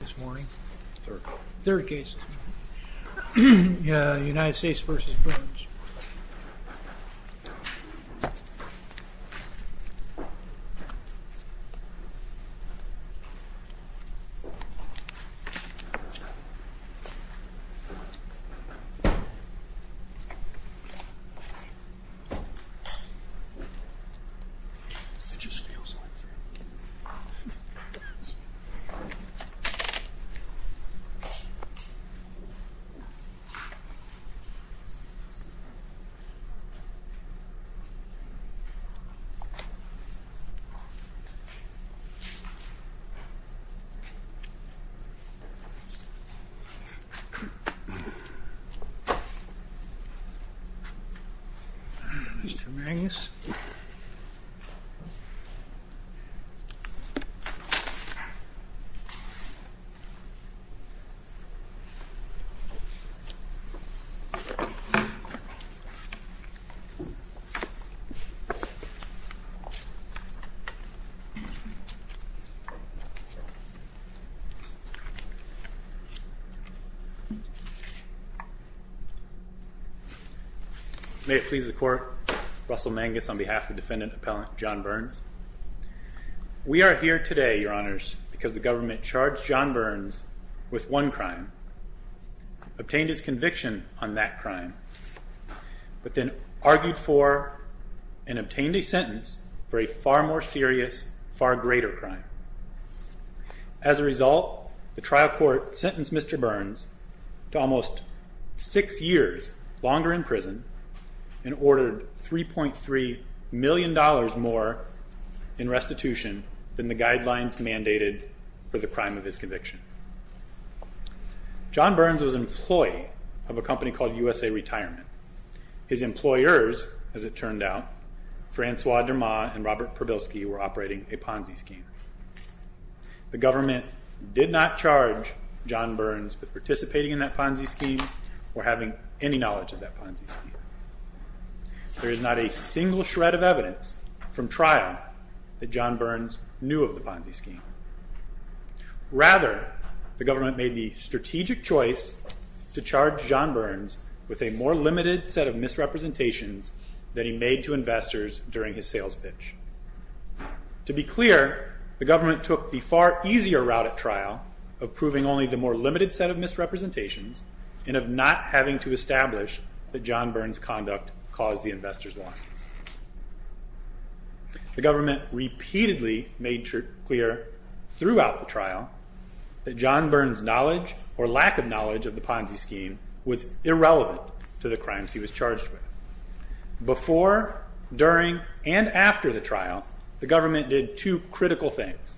This morning, third case, United States v. Burns. Let's turn the angles. May it please the Court, Russell Mangus v. Burns. We are here today because the government charged John Burns with one crime, obtained his conviction on that crime, but then argued for and obtained a sentence for a far more serious, far greater crime. As a result, the trial court sentenced Mr. Burns to almost six years longer in prison and ordered $3.3 million more in restitution than the guidelines mandated for the crime of his conviction. John Burns was an employee of a company called USA Retirement. His employers, as it turned out, Francois Dermot and Robert Probilsky, were operating a Ponzi scheme. The government did not charge John Burns with participating in that Ponzi scheme or having any knowledge of that Ponzi scheme. There is not a single shred of evidence from trial that John Burns knew of the Ponzi scheme. Rather, the government made the strategic choice to charge John Burns with a more limited set of misrepresentations than he made to investors during his sales pitch. To be clear, the government took the far easier route at trial of proving only the more limited set of misrepresentations and of not having to establish that John Burns' conduct caused the investors' losses. The government repeatedly made clear throughout the trial that John Burns' knowledge or lack of knowledge of the Ponzi scheme was irrelevant to the crimes he was charged with. Before, during, and after the trial, the government did two critical things.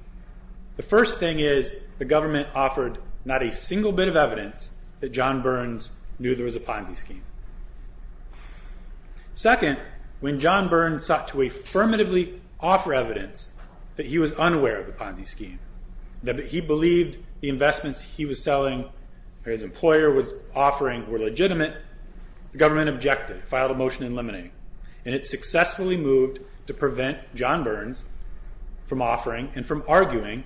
The first thing is the government offered not a single bit of evidence that John Burns knew there was a Ponzi scheme. Second, when John Burns sought to affirmatively offer evidence that he was unaware of the Ponzi scheme, that he believed the investments he was selling or his employer was offering were legitimate, the government objected, filed a motion eliminating, and it successfully moved to prevent John Burns from offering and from arguing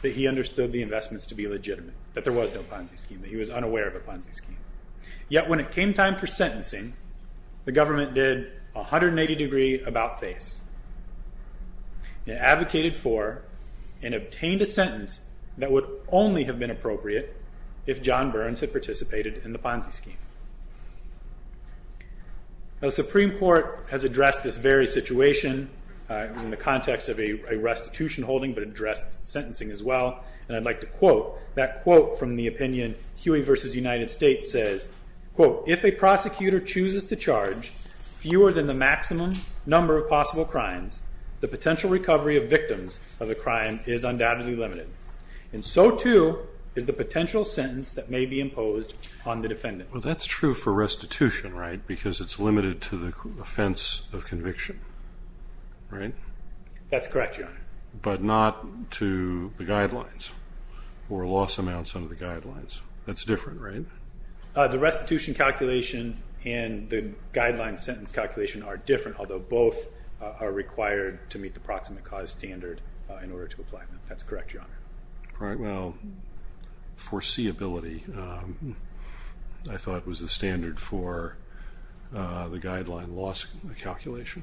that he understood the investments to be legitimate, that there was no Ponzi scheme, that he was unaware of a Ponzi scheme. Yet when it came time for sentencing, the government did 180 degree about-face. It advocated for and obtained a sentence that would only have been appropriate if John Burns had participated in the Ponzi scheme. The Supreme Court has addressed this very situation. It was in the context of a restitution holding but addressed sentencing as well. And I'd like to quote that quote from the opinion, Huey v. United States says, quote, if a prosecutor chooses to charge fewer than the maximum number of possible crimes, the potential recovery of victims of a crime is undoubtedly limited. And so, too, is the potential sentence that may be imposed on the defendant. Well, that's true for restitution, right, because it's limited to the offense of conviction, right? That's correct, Your Honor. But not to the guidelines or loss amounts under the guidelines. That's different, right? The restitution calculation and the guideline sentence calculation are different, although both are required to meet the proximate cause standard in order to apply them. That's correct, Your Honor. Well, foreseeability, I thought, was the standard for the guideline loss calculation.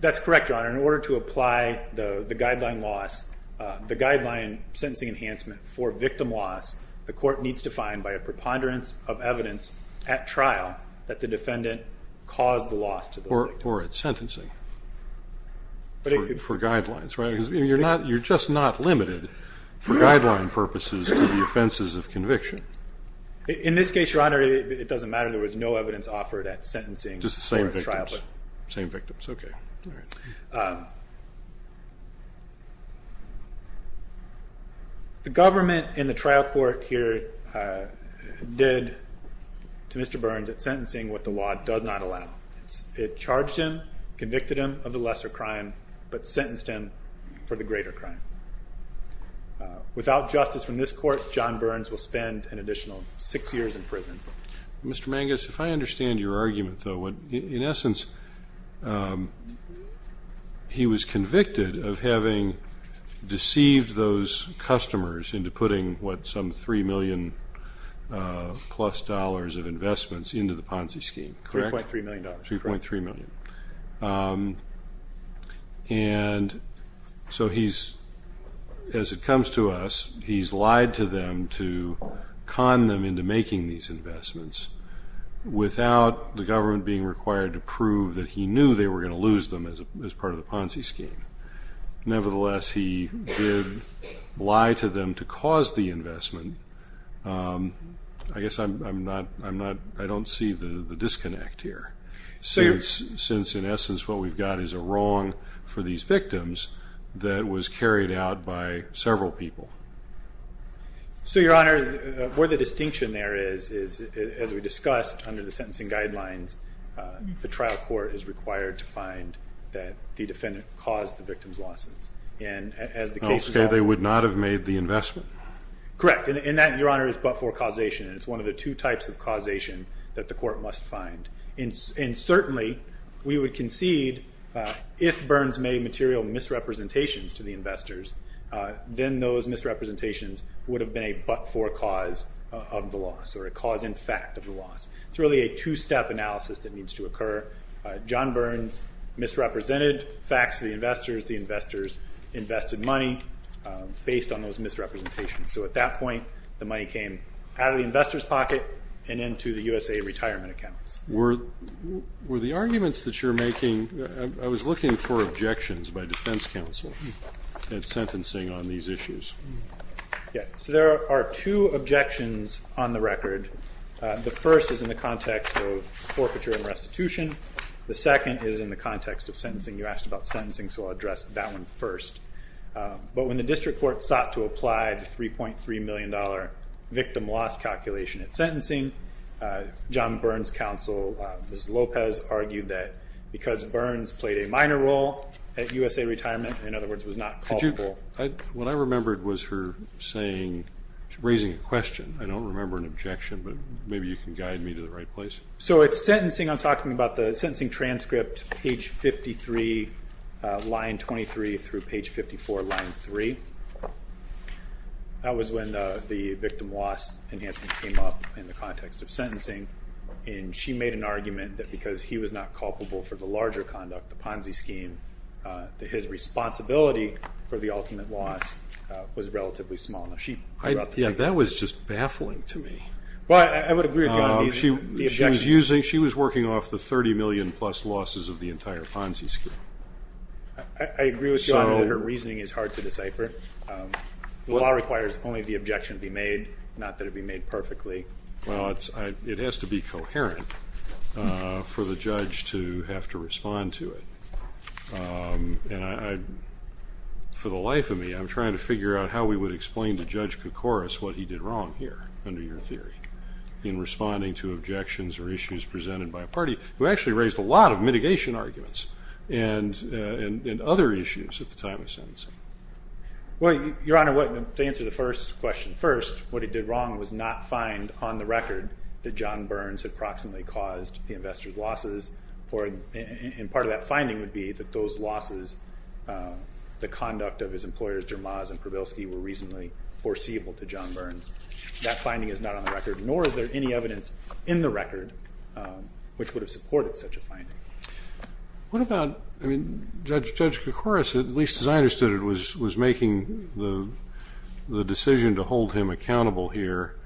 That's correct, Your Honor. In order to apply the guideline loss, the guideline sentencing enhancement for victim loss, the court needs to find by a preponderance of evidence at trial that the defendant caused the loss to the victim. Or at sentencing for guidelines, right? Because you're just not limited for guideline purposes to the offenses of conviction. In this case, Your Honor, it doesn't matter. Just the same victims. Same victims, okay. The government in the trial court here did to Mr. Burns at sentencing what the law does not allow. It charged him, convicted him of the lesser crime, but sentenced him for the greater crime. Without justice from this court, John Burns will spend an additional six years in prison. Mr. Mangus, if I understand your argument, though, in essence, he was convicted of having deceived those customers into putting, what, some $3 million-plus of investments into the Ponzi scheme, correct? $3.3 million. $3.3 million. And so he's, as it comes to us, he's lied to them to con them into making these investments without the government being required to prove that he knew they were going to lose them as part of the Ponzi scheme. Nevertheless, he did lie to them to cause the investment. I guess I'm not, I don't see the disconnect here. Since, in essence, what we've got is a wrong for these victims that was carried out by several people. So, Your Honor, where the distinction there is, as we discussed under the sentencing guidelines, the trial court is required to find that the defendant caused the victims' losses. And as the case resolved. Oh, so they would not have made the investment? Correct. And that, Your Honor, is but for causation. And it's one of the two types of causation that the court must find. And certainly, we would concede, if Burns made material misrepresentations to the investors, then those misrepresentations would have been a but-for cause of the loss, or a cause-in-fact of the loss. It's really a two-step analysis that needs to occur. John Burns misrepresented facts to the investors. The investors invested money based on those misrepresentations. So, at that point, the money came out of the investors' pocket and into the USA retirement accounts. Were the arguments that you're making, I was looking for objections by defense counsel at sentencing on these issues. So, there are two objections on the record. The first is in the context of forfeiture and restitution. The second is in the context of sentencing. You asked about sentencing, so I'll address that one first. But when the district court sought to apply the $3.3 million victim loss calculation at sentencing, John Burns' counsel, Ms. Lopez, argued that because Burns played a minor role at USA retirement, in other words, was not culpable. What I remembered was her saying, raising a question. I don't remember an objection, but maybe you can guide me to the right place. So, it's sentencing. I'm talking about the sentencing transcript, page 53, line 23 through page 54, line 3. That was when the victim loss enhancement came up in the context of sentencing. And she made an argument that because he was not culpable for the larger conduct, the Ponzi scheme, that his responsibility for the ultimate loss was relatively small. Yeah, that was just baffling to me. Well, I would agree with you on the objection. She was working off the $30 million plus losses of the entire Ponzi scheme. I agree with you on that her reasoning is hard to decipher. The law requires only the objection be made, not that it be made perfectly. Well, it has to be coherent for the judge to have to respond to it. For the life of me, I'm trying to figure out how we would explain to Judge Koukouris what he did wrong here, under your theory, in responding to objections or issues presented by a party who actually raised a lot of mitigation arguments and other issues at the time of sentencing. Well, Your Honor, to answer the first question first, what he did wrong was not find on the record that John Burns had proximately caused the investor's losses. And part of that finding would be that those losses, the conduct of his employers, Dermaz and Probilsky, were reasonably foreseeable to John Burns. That finding is not on the record, nor is there any evidence in the record, which would have supported such a finding. What about Judge Koukouris, at least as I understood it, was making the decision to hold him accountable here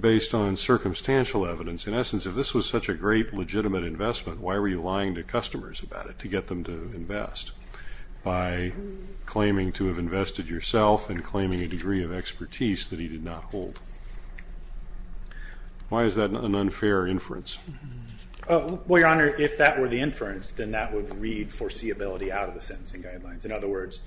based on circumstantial evidence. In essence, if this was such a great, legitimate investment, why were you lying to customers about it to get them to invest by claiming to have invested yourself and claiming a degree of expertise that he did not hold? Why is that an unfair inference? Well, Your Honor, if that were the inference, then that would read foreseeability out of the sentencing guidelines. In other words,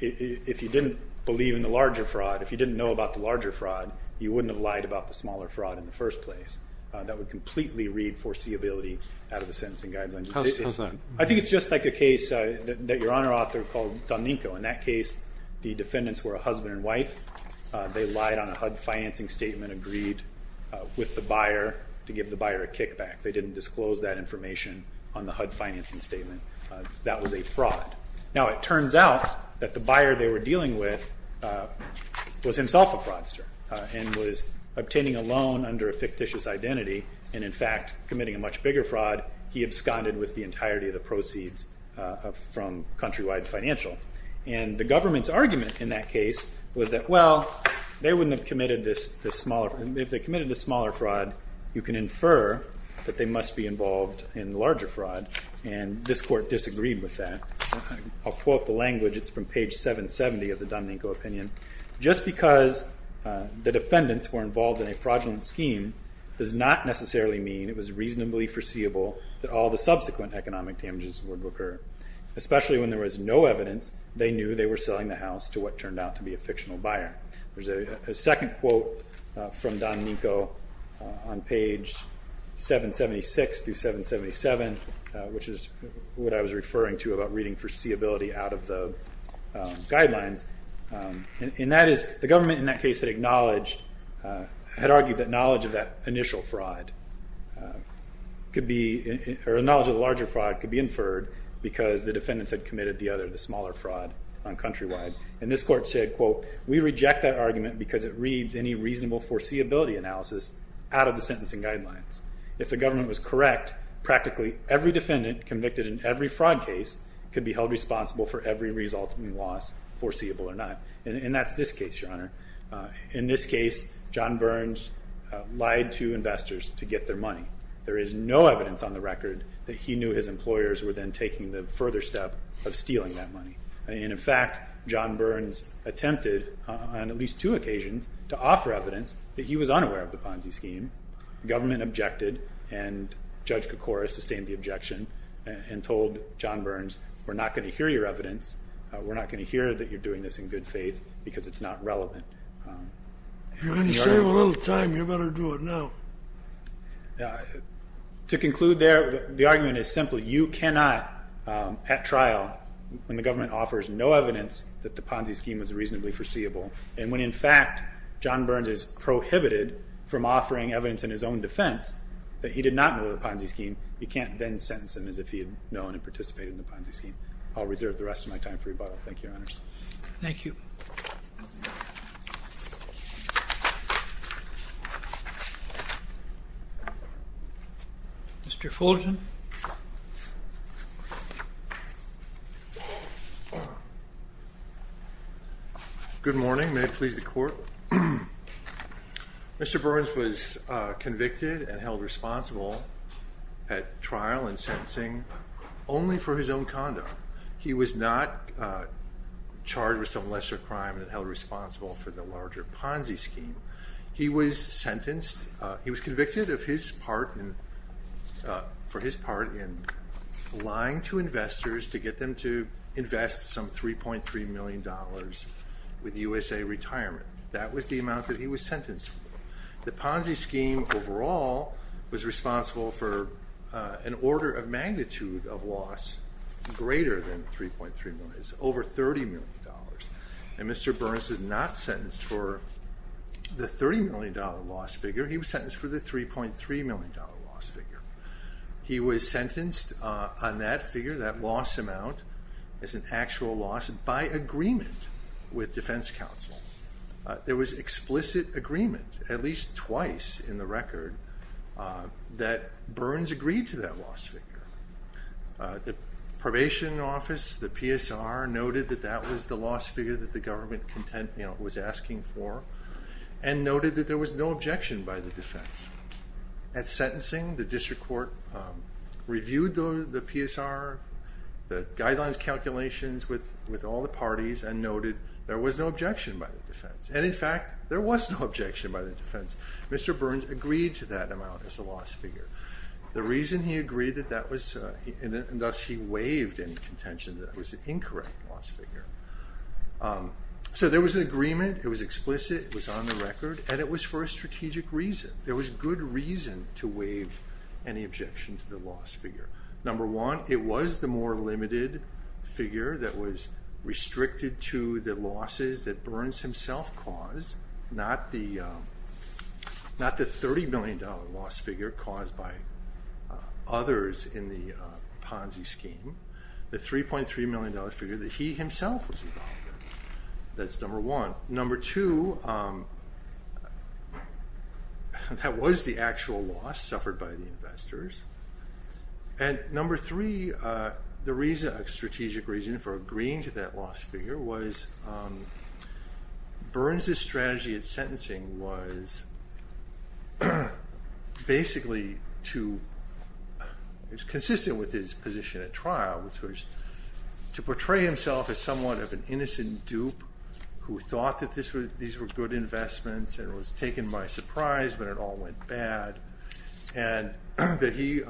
if you didn't believe in the larger fraud, if you didn't know about the larger fraud, you wouldn't have lied about the smaller fraud in the first place. That would completely read foreseeability out of the sentencing guidelines. How so? I think it's just like a case that Your Honor authored called Donninko. In that case, the defendants were a husband and wife. They lied on a HUD financing statement, agreed with the buyer to give the buyer a kickback. They didn't disclose that information on the HUD financing statement. That was a fraud. Now, it turns out that the buyer they were dealing with was himself a fraudster and was obtaining a loan under a fictitious identity and, in fact, committing a much bigger fraud. He absconded with the entirety of the proceeds from Countrywide Financial. And the government's argument in that case was that, well, if they committed the smaller fraud, you can infer that they must be involved in the larger fraud. And this Court disagreed with that. I'll quote the language. It's from page 770 of the Donninko opinion. Just because the defendants were involved in a fraudulent scheme does not necessarily mean it was reasonably foreseeable that all the subsequent economic damages would occur, especially when there was no evidence they knew they were selling the house to what turned out to be a fictional buyer. There's a second quote from Donninko on page 776 through 777, which is what I was referring to about reading foreseeability out of the guidelines. And that is the government in that case had argued that knowledge of that initial fraud could be or knowledge of the larger fraud could be inferred because the defendants had committed the other, the smaller fraud on Countrywide. And this Court said, quote, we reject that argument because it reads any reasonable foreseeability analysis out of the sentencing guidelines. If the government was correct, practically every defendant convicted in every fraud case could be held responsible for every resulting loss, foreseeable or not. And that's this case, Your Honor. In this case, John Burns lied to investors to get their money. There is no evidence on the record that he knew his employers were then taking the further step of stealing that money. And, in fact, John Burns attempted on at least two occasions to offer evidence that he was unaware of the Ponzi scheme. The government objected, and Judge Kokora sustained the objection and told John Burns, we're not going to hear your evidence. We're not going to hear that you're doing this in good faith because it's not relevant. If you're going to save a little time, you better do it now. To conclude there, the argument is simply you cannot at trial, when the government offers no evidence that the Ponzi scheme was reasonably foreseeable, and when, in fact, John Burns is prohibited from offering evidence in his own defense that he did not know the Ponzi scheme, you can't then sentence him as if he had known and participated in the Ponzi scheme. I'll reserve the rest of my time for rebuttal. Thank you, Your Honors. Thank you. Mr. Fulton. Good morning. May it please the Court. Mr. Burns was convicted and held responsible at trial and sentencing only for his own conduct. He was not charged with some lesser crime and held responsible for the larger Ponzi scheme. He was convicted for his part in lying to investors to get them to invest some $3.3 million with USA Retirement. That was the amount that he was sentenced for. The Ponzi scheme overall was responsible for an order of magnitude of loss, greater than $3.3 million, over $30 million. And Mr. Burns was not sentenced for the $30 million loss figure. He was sentenced for the $3.3 million loss figure. He was sentenced on that figure, that loss amount, as an actual loss, by agreement with defense counsel. There was explicit agreement, at least twice in the record, that Burns agreed to that loss figure. The probation office, the PSR, noted that that was the loss figure that the government was asking for and noted that there was no objection by the defense. At sentencing, the district court reviewed the PSR, the guidelines calculations with all the parties and noted there was no objection by the defense. And, in fact, there was no objection by the defense. Mr. Burns agreed to that amount as a loss figure. The reason he agreed that that was, and thus he waived any contention that it was an incorrect loss figure. So there was an agreement. It was explicit. It was on the record. And it was for a strategic reason. There was good reason to waive any objection to the loss figure. Number one, it was the more limited figure that was restricted to the losses that Burns himself caused, not the $30 million loss figure caused by others in the Ponzi scheme, the $3.3 million figure that he himself was involved in. That's number one. Number two, that was the actual loss suffered by the investors. And number three, the strategic reason for agreeing to that loss figure was Burns's strategy at sentencing was basically to, it was consistent with his position at trial, which was to portray himself as somewhat of an innocent dupe who thought that these were good investments and it was taken by surprise but it all went bad. And that he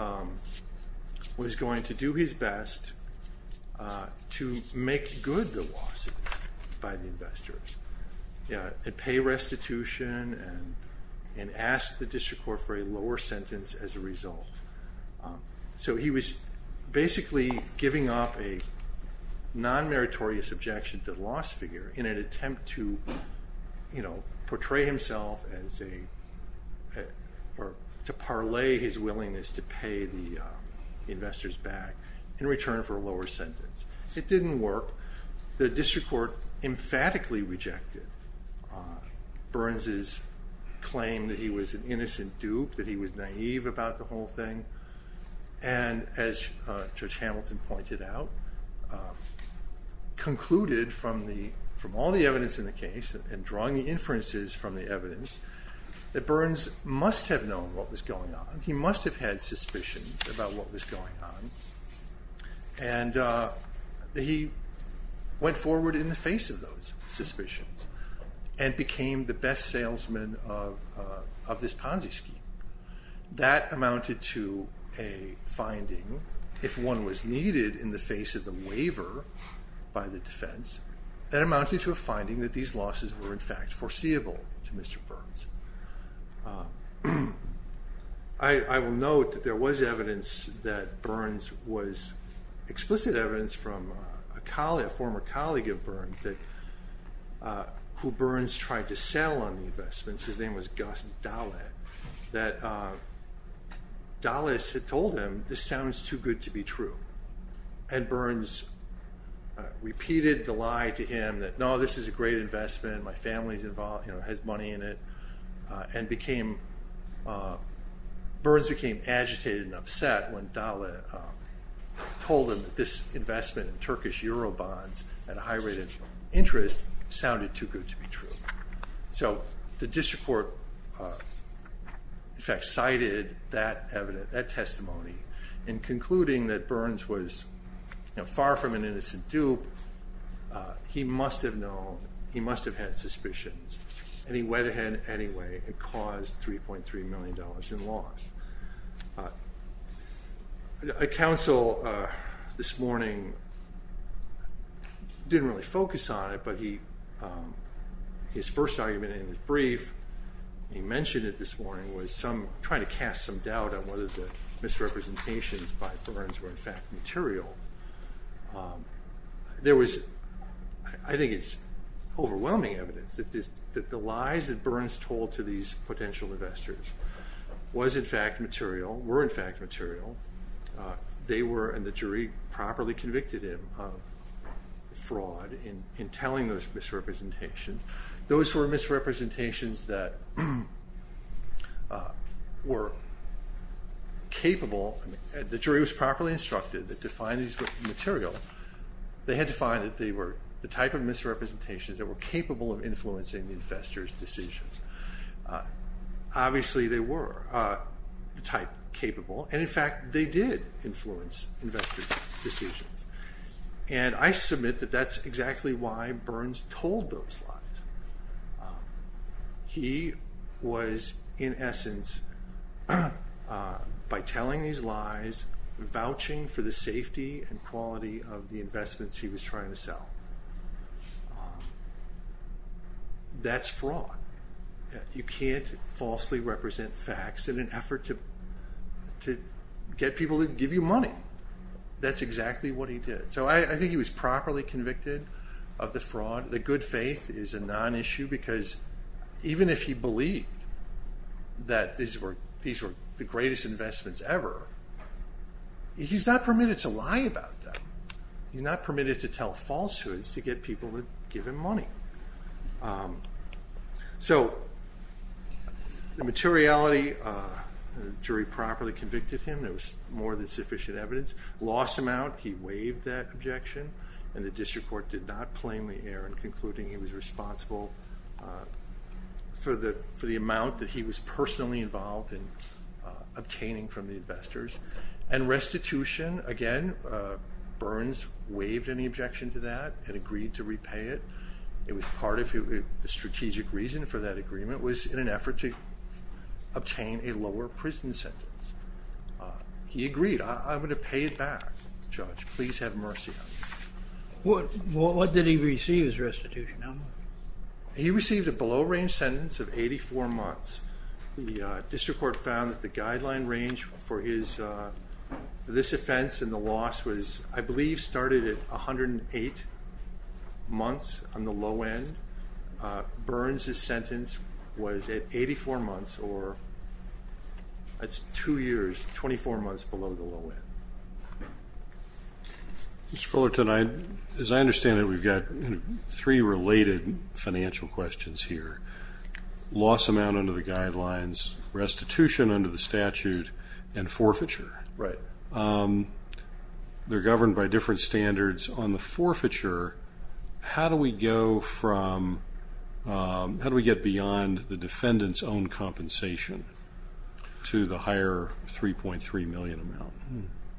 was going to do his best to make good the losses by the investors and pay restitution and ask the district court for a lower sentence as a result. So he was basically giving up a non-meritorious objection to the loss figure in an attempt to portray himself as a, or to parlay his willingness to pay the investors back in return for a lower sentence. It didn't work. The district court emphatically rejected Burns's claim that he was an innocent dupe, that he was naive about the whole thing. And as Judge Hamilton pointed out, concluded from all the evidence in the case and drawing the inferences from the evidence, that Burns must have known what was going on. He must have had suspicions about what was going on. And he went forward in the face of those suspicions and became the best salesman of this Ponzi scheme. That amounted to a finding, if one was needed in the face of the waiver by the defense, that amounted to a finding that these losses were in fact foreseeable to Mr. Burns. I will note that there was evidence that Burns was, explicit evidence from a colleague, a former colleague of Burns that, who Burns tried to sell on the investments, his name was Gus Dahle, that Dahle had told him, this sounds too good to be true. And Burns repeated the lie to him that, no, this is a great investment, my family is involved, has money in it, and became, Burns became agitated and upset when Dahle told him that this investment in Turkish Euro bonds at a high rate of interest sounded too good to be true. So the district court in fact cited that testimony in concluding that Burns was far from an innocent dupe. He must have known, he must have had suspicions, and he went ahead anyway and caused $3.3 million in loss. A counsel this morning didn't really focus on it, but his first argument in his brief, he mentioned it this morning, was trying to cast some doubt on whether the misrepresentations by Burns were in fact material. There was, I think it's overwhelming evidence that the lies that Burns told to these potential investors was in fact material, were in fact material. They were, and the jury properly convicted him of fraud in telling those misrepresentations. Those were misrepresentations that were capable, the jury was properly instructed to find these material. They had to find that they were the type of misrepresentations that were capable of influencing the investors' decisions. Obviously they were the type capable, and in fact they did influence investors' decisions. And I submit that that's exactly why Burns told those lies. He was in essence, by telling these lies, vouching for the safety and quality of the investments he was trying to sell. That's fraud. You can't falsely represent facts in an effort to get people to give you money. That's exactly what he did. So I think he was properly convicted of the fraud. The good faith is a non-issue because even if he believed that these were the greatest investments ever, he's not permitted to lie about them. He's not permitted to tell falsehoods to get people to give him money. So the materiality, the jury properly convicted him. There was more than sufficient evidence. Lost him out. He waived that objection, and the district court did not plainly err in concluding he was responsible for the amount that he was personally involved in obtaining from the investors. And restitution, again, Burns waived any objection to that and agreed to repay it. It was part of the strategic reason for that agreement was in an effort to obtain a lower prison sentence. He agreed, I'm going to pay it back. Judge, please have mercy on me. What did he receive as restitution? He received a below range sentence of 84 months. The district court found that the guideline range for this offense and the loss was I believe started at 108 months on the low end. Burns' sentence was at 84 months, or that's two years, 24 months below the low end. Mr. Fullerton, as I understand it, we've got three related financial questions here. Loss amount under the guidelines, restitution under the statute, and forfeiture. Right. They're governed by different standards. On the forfeiture, how do we go from, how do we get beyond the defendant's own compensation to the higher $3.3 million amount?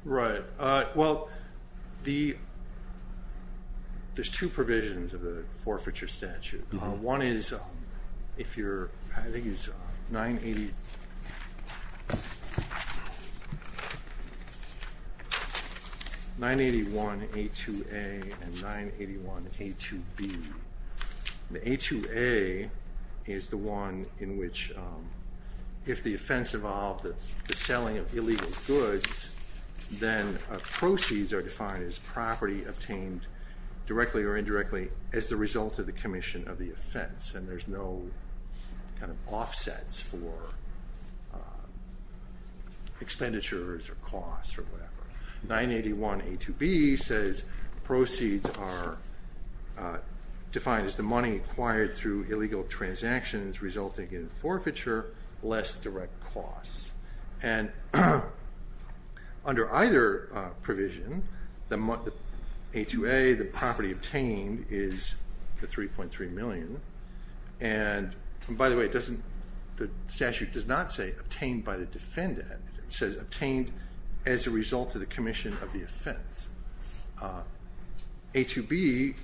Right. Well, there's two provisions of the forfeiture statute. One is if you're, I think it's 981A2A and 981A2B. The A2A is the one in which if the offense involved the selling of illegal goods, then proceeds are defined as property obtained directly or indirectly as the result of the commission of the offense, and there's no kind of offsets for expenditures or costs or whatever. 981A2B says proceeds are defined as the money acquired through illegal transactions resulting in forfeiture, less direct costs. And under either provision, the A2A, the property obtained, is the $3.3 million. And, by the way, the statute does not say obtained by the defendant. It says obtained as a result of the commission of the offense. A2B,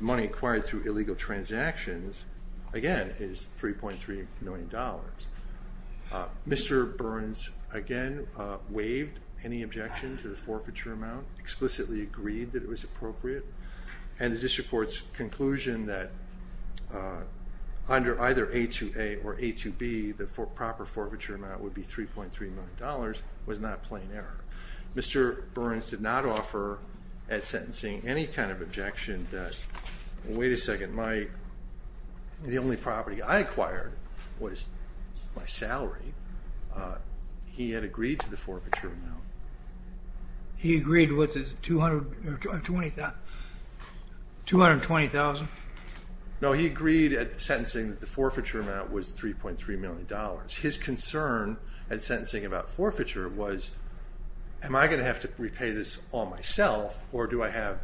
money acquired through illegal transactions, again, is $3.3 million. Mr. Burns, again, waived any objection to the forfeiture amount, explicitly agreed that it was appropriate, and the district court's conclusion that under either A2A or A2B, the proper forfeiture amount would be $3.3 million was not plain error. Mr. Burns did not offer at sentencing any kind of objection that, wait a second, the only property I acquired was my salary. He had agreed to the forfeiture amount. He agreed with $220,000? No, he agreed at sentencing that the forfeiture amount was $3.3 million. His concern at sentencing about forfeiture was, am I going to have to repay this all myself or do I have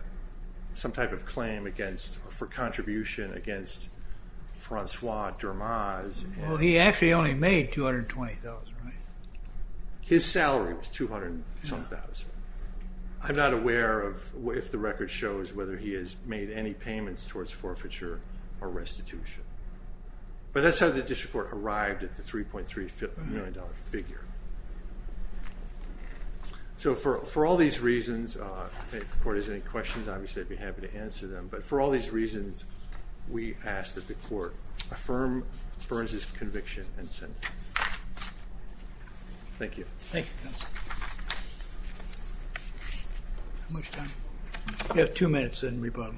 some type of claim for contribution against Francois Dermaz? Well, he actually only made $220,000, right? His salary was $220,000. I'm not aware if the record shows whether he has made any payments towards forfeiture or restitution. But that's how the district court arrived at the $3.3 million figure. So for all these reasons, if the court has any questions, obviously I'd be happy to answer them. But for all these reasons, we ask that the court affirm Burns' conviction and sentence. Thank you. Thank you, counsel. How much time? You have two minutes in rebuttal.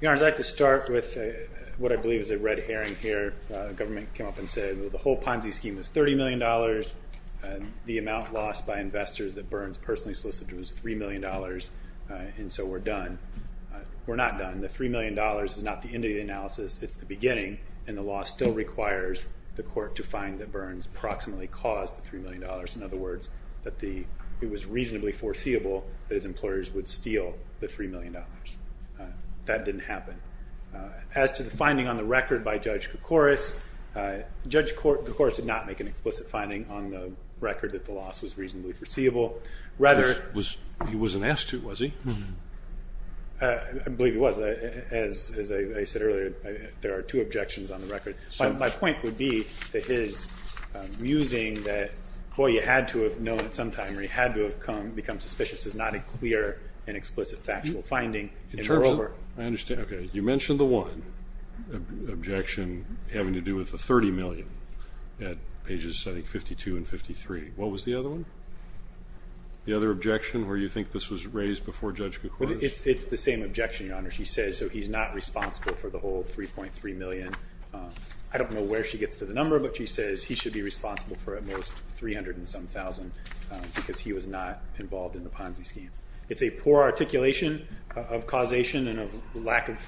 Your Honor, I'd like to start with what I believe is a red herring here. The government came up and said, well, the whole Ponzi scheme was $30 million. The amount lost by investors that Burns personally solicited was $3 million, and so we're done. We're not done. The $3 million is not the end of the analysis. It's the beginning, and the law still requires the court to find that Burns approximately caused the $3 million. In other words, it was reasonably foreseeable that his employers would steal the $3 million. That didn't happen. As to the finding on the record by Judge Koukouris, Judge Koukouris did not make an explicit finding on the record that the loss was reasonably foreseeable. He wasn't asked to, was he? I believe he was. As I said earlier, there are two objections on the record. My point would be that his musing that, boy, you had to have known at some time or you had to have become suspicious is not a clear and explicit factual finding, and we're over. I understand. Okay. You mentioned the one objection having to do with the $30 million at pages, I think, 52 and 53. What was the other one? The other objection where you think this was raised before Judge Koukouris? It's the same objection, Your Honor. She says he's not responsible for the whole $3.3 million. I don't know where she gets to the number, but she says he should be responsible for at most $300,000 and some thousand because he was not involved in the Ponzi scheme. It's a poor articulation of causation and of lack of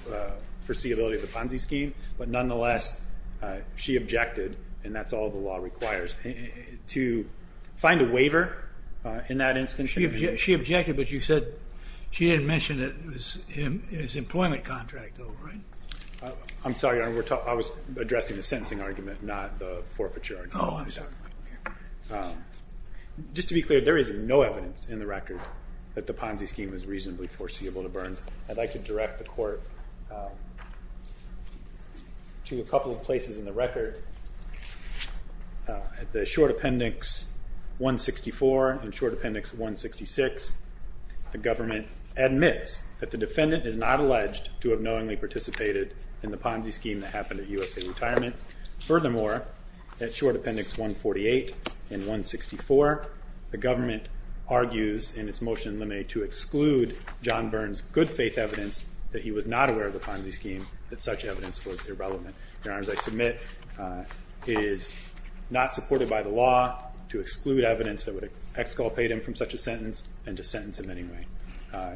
foreseeability of the Ponzi scheme, but nonetheless she objected, and that's all the law requires. To find a waiver in that instance? She objected, but you said she didn't mention that it was his employment contract, though, right? I'm sorry, Your Honor. I was addressing the sentencing argument, not the forfeiture argument. Oh, I'm sorry. Just to be clear, there is no evidence in the record that the Ponzi scheme was reasonably foreseeable to Burns. I'd like to direct the Court to a couple of places in the record. At the Short Appendix 164 and Short Appendix 166, the government admits that the defendant is not alleged to have knowingly participated in the Ponzi scheme that happened at USA Retirement. Furthermore, at Short Appendix 148 and 164, the government argues in its motion in limine to exclude John Burns' good faith evidence that he was not aware of the Ponzi scheme, that such evidence was irrelevant. Your Honors, I submit it is not supported by the law to exclude evidence that would exculpate him from such a sentence and to sentence him anyway. I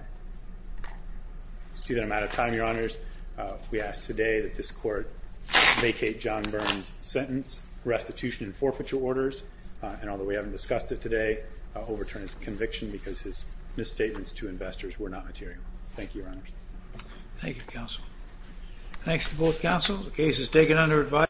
see that I'm out of time, Your Honors. We ask today that this Court vacate John Burns' sentence, restitution, and forfeiture orders. And although we haven't discussed it today, I'll overturn his conviction because his misstatements to investors were not material. Thank you, Your Honors. Thank you, Counsel. Thanks to both Counsel. The case is taken under advice.